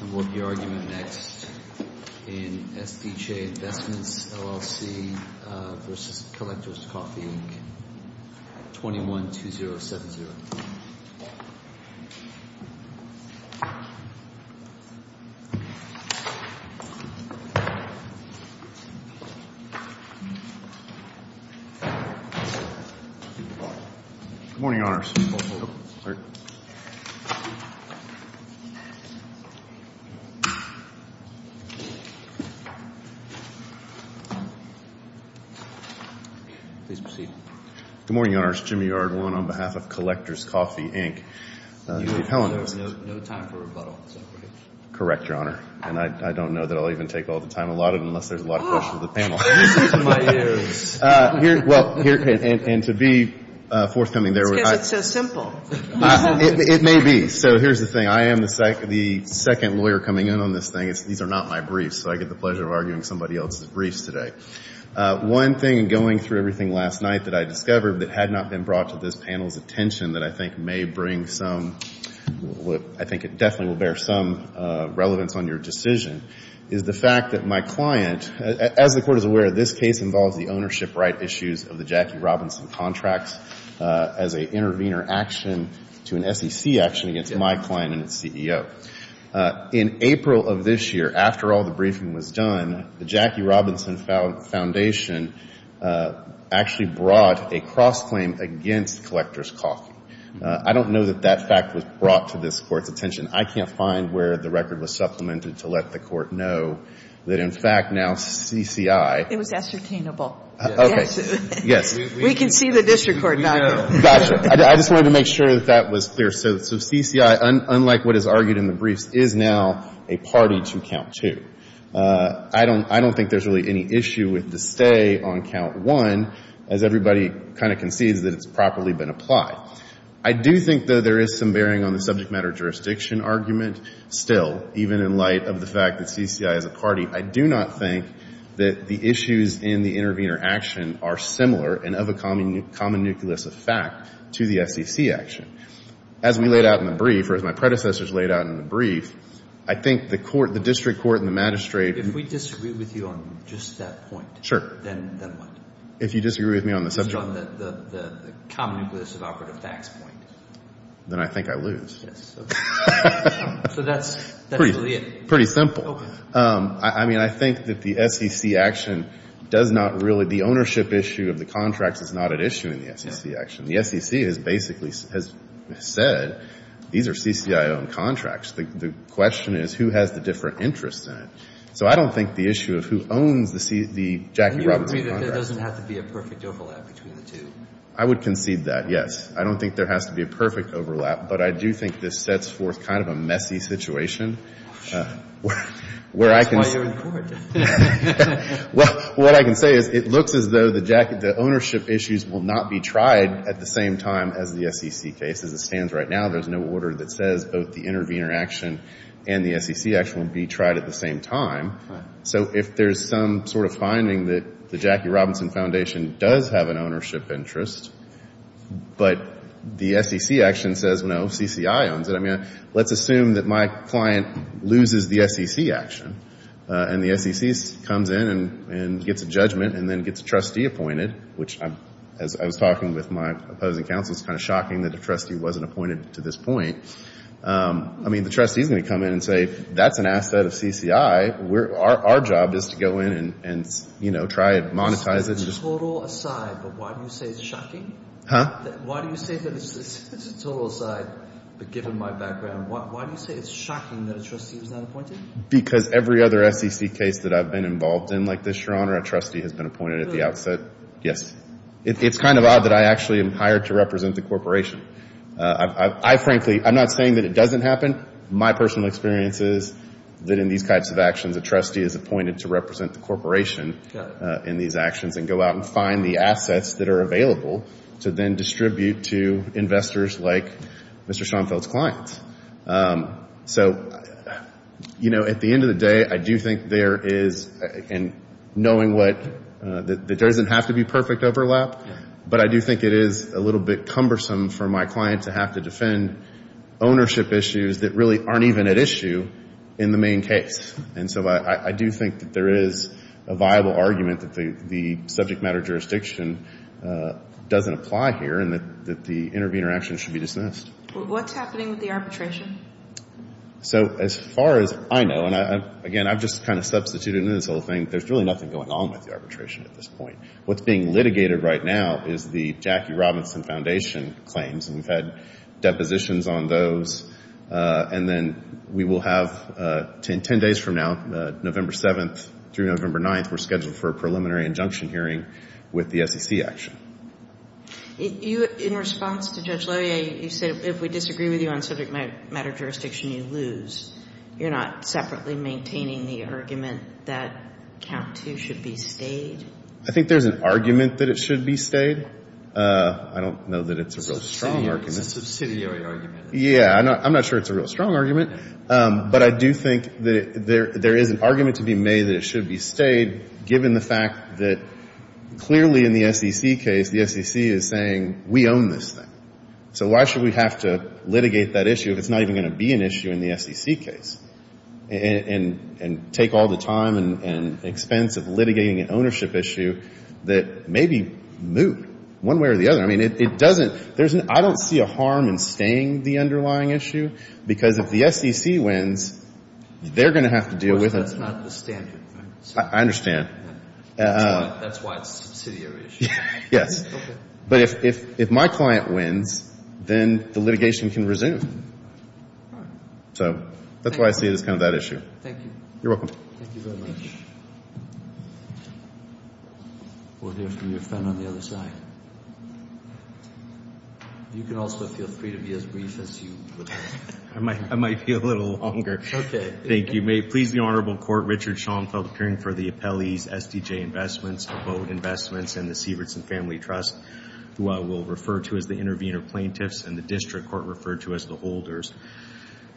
And we'll have the argument next in S.P. Che Investments, LLC v. Collector's Coffee, 21-2070. Good morning, Your Honors. Good morning, Your Honors. Jimmy Yardwan on behalf of Collector's Coffee, Inc. There's no time for rebuttal. Correct, Your Honor. And I don't know that I'll even take all the time allotted unless there's a lot of questions for the panel. This is in my ears. Well, and to be forthcoming there. It's because it's so simple. It may be. So here's the thing. I am the second lawyer coming in on this thing. These are not my briefs, so I get the pleasure of arguing somebody else's briefs today. One thing in going through everything last night that I discovered that had not been brought to this panel's attention that I think may bring some – I think it definitely will bear some relevance on your decision is the fact that my client, as the Court is aware, this case involves the ownership right issues of the Jackie Robinson contracts as an intervener action to an SEC action against my client and its CEO. In April of this year, after all the briefing was done, the Jackie Robinson Foundation actually brought a cross-claim against Collector's Coffee. I don't know that that fact was brought to this Court's attention. I can't find where the record was supplemented to let the Court know that, in fact, now CCI – It was ascertainable. Okay. Yes. We can see the district court document. Gotcha. I just wanted to make sure that that was clear. So CCI, unlike what is argued in the briefs, is now a party to Count 2. I don't think there's really any issue with the stay on Count 1, as everybody kind of concedes that it's properly been applied. I do think, though, there is some bearing on the subject matter jurisdiction argument still, even in light of the fact that CCI is a party. I do not think that the issues in the intervener action are similar and of a common nucleus of fact to the SEC action. As we laid out in the brief, or as my predecessors laid out in the brief, I think the court – the district court and the magistrate – If we disagree with you on just that point. Sure. Then what? If you disagree with me on the subject – On the common nucleus of operative facts point. Then I think I lose. Yes. Okay. So that's really it. Pretty simple. I mean, I think that the SEC action does not really – the ownership issue of the contracts is not at issue in the SEC action. The SEC has basically said these are CCI-owned contracts. The question is who has the different interests in it. So I don't think the issue of who owns the Jackie Robertson contract – And you agree that there doesn't have to be a perfect overlap between the two? I would concede that, yes. I don't think there has to be a perfect overlap, but I do think this sets forth kind of a messy situation. That's why you're in court. What I can say is it looks as though the ownership issues will not be tried at the same time as the SEC case. As it stands right now, there's no order that says both the intervener action and the SEC action will be tried at the same time. So if there's some sort of finding that the Jackie Robinson Foundation does have an ownership interest, but the SEC action says, no, CCI owns it, I mean, let's assume that my client loses the SEC action and the SEC comes in and gets a judgment and then gets a trustee appointed, which, as I was talking with my opposing counsel, it's kind of shocking that a trustee wasn't appointed to this point. I mean, the trustee is going to come in and say, that's an asset of CCI. Our job is to go in and try to monetize it. It's a total aside, but why do you say it's shocking? Huh? Why do you say that it's a total aside, but given my background, why do you say it's shocking that a trustee was not appointed? Because every other SEC case that I've been involved in like this, Your Honor, a trustee has been appointed at the outset. Really? Yes. It's kind of odd that I actually am hired to represent the corporation. I frankly, I'm not saying that it doesn't happen. My personal experience is that in these types of actions, a trustee is appointed to represent the corporation in these actions and go out and find the assets that are available to then distribute to investors like Mr. Schoenfeld's clients. So, you know, at the end of the day, I do think there is, and knowing what, that there doesn't have to be perfect overlap, but I do think it is a little bit cumbersome for my client to have to defend ownership issues that really aren't even at issue in the main case. And so I do think that there is a viable argument that the subject matter jurisdiction doesn't apply here and that the intervener action should be dismissed. What's happening with the arbitration? So as far as I know, and again, I've just kind of substituted into this whole thing, there's really nothing going on with the arbitration at this point. What's being litigated right now is the Jackie Robinson Foundation claims, and we've had depositions on those. And then we will have 10 days from now, November 7th through November 9th, we're scheduled for a preliminary injunction hearing with the SEC action. In response to Judge Loehr, you said if we disagree with you on subject matter jurisdiction, you lose. You're not separately maintaining the argument that count two should be stayed? I think there's an argument that it should be stayed. I don't know that it's a real strong argument. It's a subsidiary argument. Yeah, I'm not sure it's a real strong argument, but I do think that there is an argument to be made that it should be stayed, given the fact that clearly in the SEC case, the SEC is saying we own this thing. So why should we have to litigate that issue if it's not even going to be an issue in the SEC case and take all the time and expense of litigating an ownership issue that may be moot one way or the other? I mean, it doesn't – I don't see a harm in staying the underlying issue, because if the SEC wins, they're going to have to deal with it. That's not the standard. I understand. That's why it's a subsidiary issue. Yes. Okay. But if my client wins, then the litigation can resume. All right. So that's why I see it as kind of that issue. Thank you. You're welcome. Thank you very much. We'll hear from your friend on the other side. You can also feel free to be as brief as you would like. I might be a little longer. Okay. Thank you. May it please the Honorable Court, Richard Schoenfeld, appearing for the appellee's SDJ investments, abode investments, and the Sievertson Family Trust, who I will refer to as the intervener plaintiffs, and the district court referred to as the holders.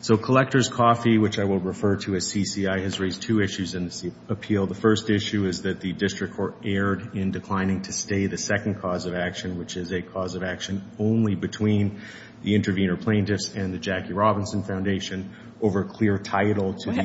So Collectors Coffee, which I will refer to as CCI, has raised two issues in this appeal. The first issue is that the district court erred in declining to stay the second cause of action, which is a cause of action only between the intervener plaintiffs and the Jackie Robinson Foundation over clear title to the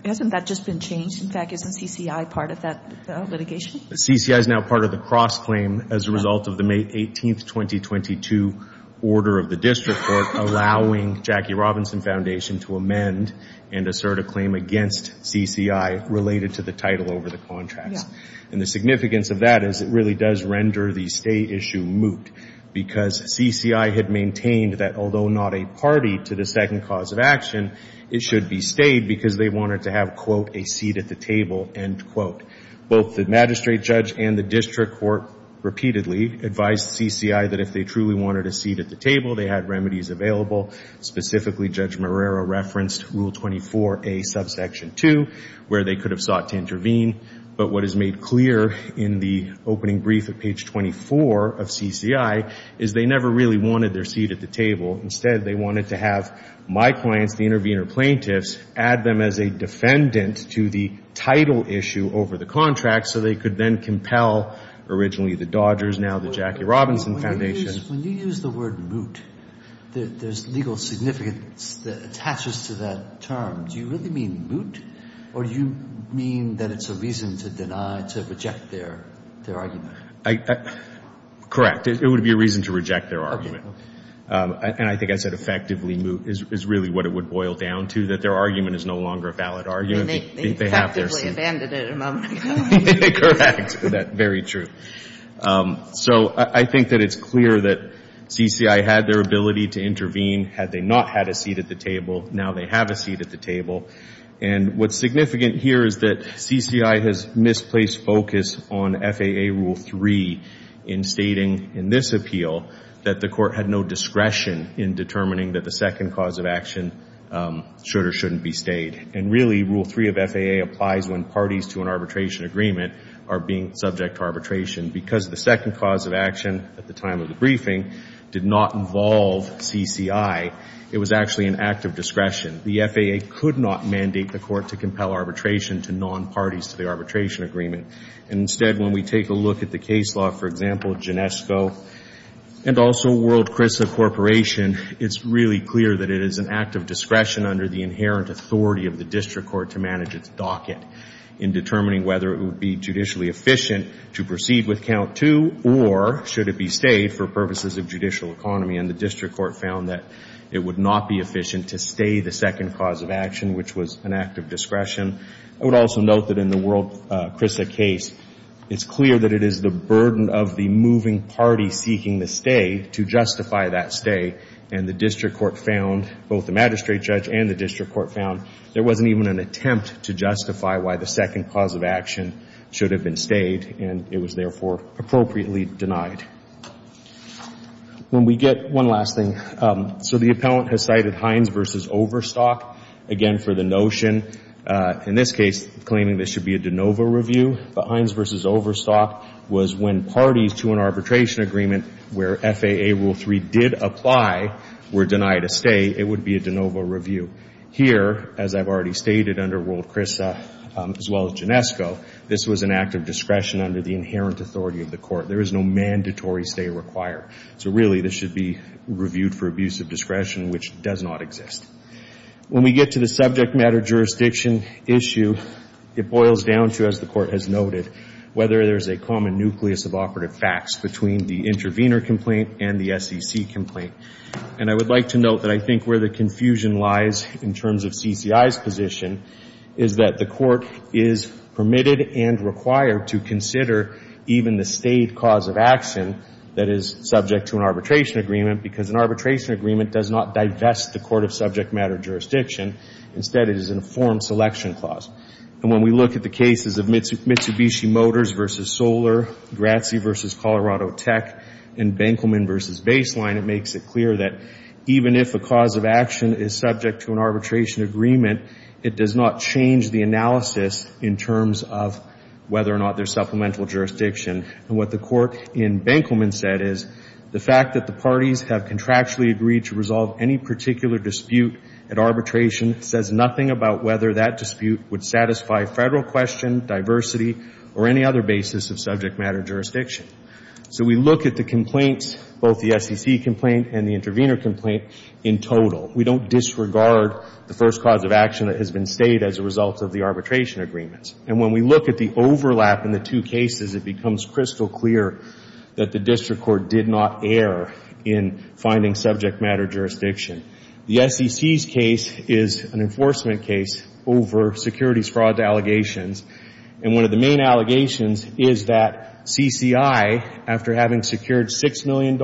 – Hasn't that just been changed? In fact, isn't CCI part of that litigation? CCI is now part of the cross-claim as a result of the May 18, 2022, order of the district court allowing Jackie Robinson Foundation to amend and assert a claim against CCI related to the title over the contracts. And the significance of that is it really does render the stay issue moot because CCI had maintained that although not a party to the second cause of action, it should be stayed because they wanted to have, quote, a seat at the table, end quote. Both the magistrate judge and the district court repeatedly advised CCI that if they truly wanted a seat at the table, they had remedies available. Specifically, Judge Marrero referenced Rule 24A, Subsection 2, where they could have sought to intervene. But what is made clear in the opening brief at page 24 of CCI is they never really wanted their seat at the table. Instead, they wanted to have my clients, the intervener plaintiffs, add them as a defendant to the title issue over the contract so they could then compel originally the Dodgers, now the Jackie Robinson Foundation. When you use the word moot, there's legal significance that attaches to that term. Do you really mean moot or do you mean that it's a reason to deny, to reject their argument? Correct. It would be a reason to reject their argument. And I think I said effectively moot is really what it would boil down to, that their argument is no longer a valid argument. They effectively abandoned it a moment ago. Correct. Very true. So I think that it's clear that CCI had their ability to intervene. Had they not had a seat at the table, now they have a seat at the table. And what's significant here is that CCI has misplaced focus on FAA Rule 3 meaning that the second cause of action should or shouldn't be stayed. And really, Rule 3 of FAA applies when parties to an arbitration agreement are being subject to arbitration. Because the second cause of action at the time of the briefing did not involve CCI, it was actually an act of discretion. The FAA could not mandate the court to compel arbitration to non-parties to the arbitration agreement. And instead, when we take a look at the case law, for example, and also World Chrisa Corporation, it's really clear that it is an act of discretion under the inherent authority of the district court to manage its docket in determining whether it would be judicially efficient to proceed with Count 2 or should it be stayed for purposes of judicial economy. And the district court found that it would not be efficient to stay the second cause of action, which was an act of discretion. I would also note that in the World Chrisa case, it's clear that it is the burden of the moving party seeking the stay to justify that stay. And the district court found, both the magistrate judge and the district court found, there wasn't even an attempt to justify why the second cause of action should have been stayed, and it was, therefore, appropriately denied. When we get one last thing. So the appellant has cited Hines v. Overstock, again, for the notion, in this case, claiming this should be a de novo review. But Hines v. Overstock was when parties to an arbitration agreement where FAA Rule 3 did apply were denied a stay, it would be a de novo review. Here, as I've already stated, under World Chrisa, as well as Ginesco, this was an act of discretion under the inherent authority of the court. There is no mandatory stay required. So, really, this should be reviewed for abuse of discretion, which does not exist. When we get to the subject matter jurisdiction issue, it boils down to, as the court has noted, whether there's a common nucleus of operative facts between the intervener complaint and the SEC complaint. And I would like to note that I think where the confusion lies in terms of CCI's position is that the court is permitted and required to consider even the stayed cause of action that is subject to an arbitration agreement because an arbitration agreement does not divest the court of subject matter jurisdiction. Instead, it is an informed selection clause. And when we look at the cases of Mitsubishi Motors v. Solar, Grazzi v. Colorado Tech, and Benkelman v. Baseline, it makes it clear that even if a cause of action is subject to an arbitration agreement, it does not change the analysis in terms of whether or not there's supplemental jurisdiction. And what the court in Benkelman said is, the fact that the parties have contractually agreed to resolve any particular dispute at arbitration says nothing about whether that dispute would satisfy federal question, diversity, or any other basis of subject matter jurisdiction. So we look at the complaints, both the SEC complaint and the intervener complaint, in total. We don't disregard the first cause of action that has been stayed as a result of the arbitration agreements. And when we look at the overlap in the two cases, it becomes crystal clear that the district court did not err in finding subject matter jurisdiction. The SEC's case is an enforcement case over securities fraud allegations. And one of the main allegations is that CCI, after having secured $6 million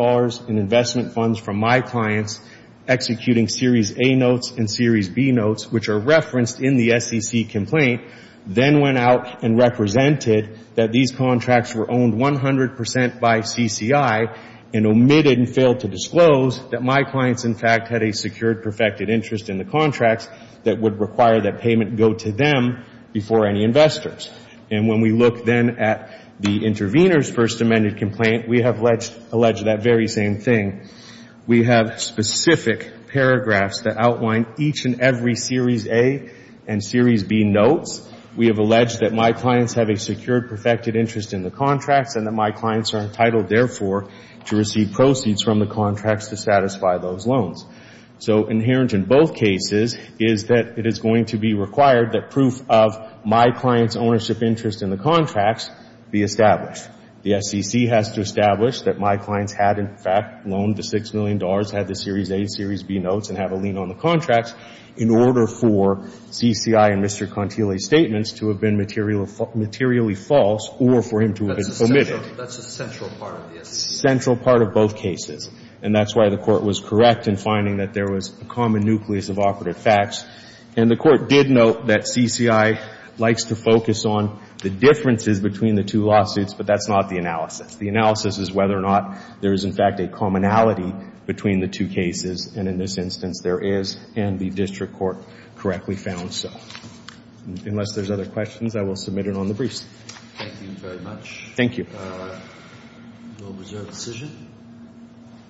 in investment funds from my clients, executing Series A notes and Series B notes, which are referenced in the SEC complaint, then went out and represented that these contracts were owned 100 percent by CCI and omitted and failed to disclose that my clients, in fact, had a secured perfected interest in the contracts that would require that payment go to them before any investors. And when we look then at the intervener's first amended complaint, we have alleged that very same thing. We have specific paragraphs that outline each and every Series A and Series B notes. We have alleged that my clients have a secured perfected interest in the contracts and that my clients are entitled, therefore, to receive proceeds from the contracts to satisfy those loans. So inherent in both cases is that it is going to be required that proof of my client's ownership interest in the contracts be established. The SEC has to establish that my clients had, in fact, loaned the $6 million, had the Series A and Series B notes, and have a lien on the contracts in order for CCI and Mr. Contile's statements to have been materially false or for him to have been omitted. That's a central part of the SEC. Central part of both cases. And that's why the Court was correct in finding that there was a common nucleus of operative facts. And the Court did note that CCI likes to focus on the differences between the two lawsuits, but that's not the analysis. The analysis is whether or not there is, in fact, a commonality between the two cases. And in this instance, there is, and the district court correctly found so. Unless there's other questions, I will submit it on the briefs. Thank you very much. Thank you. We'll reserve the decision.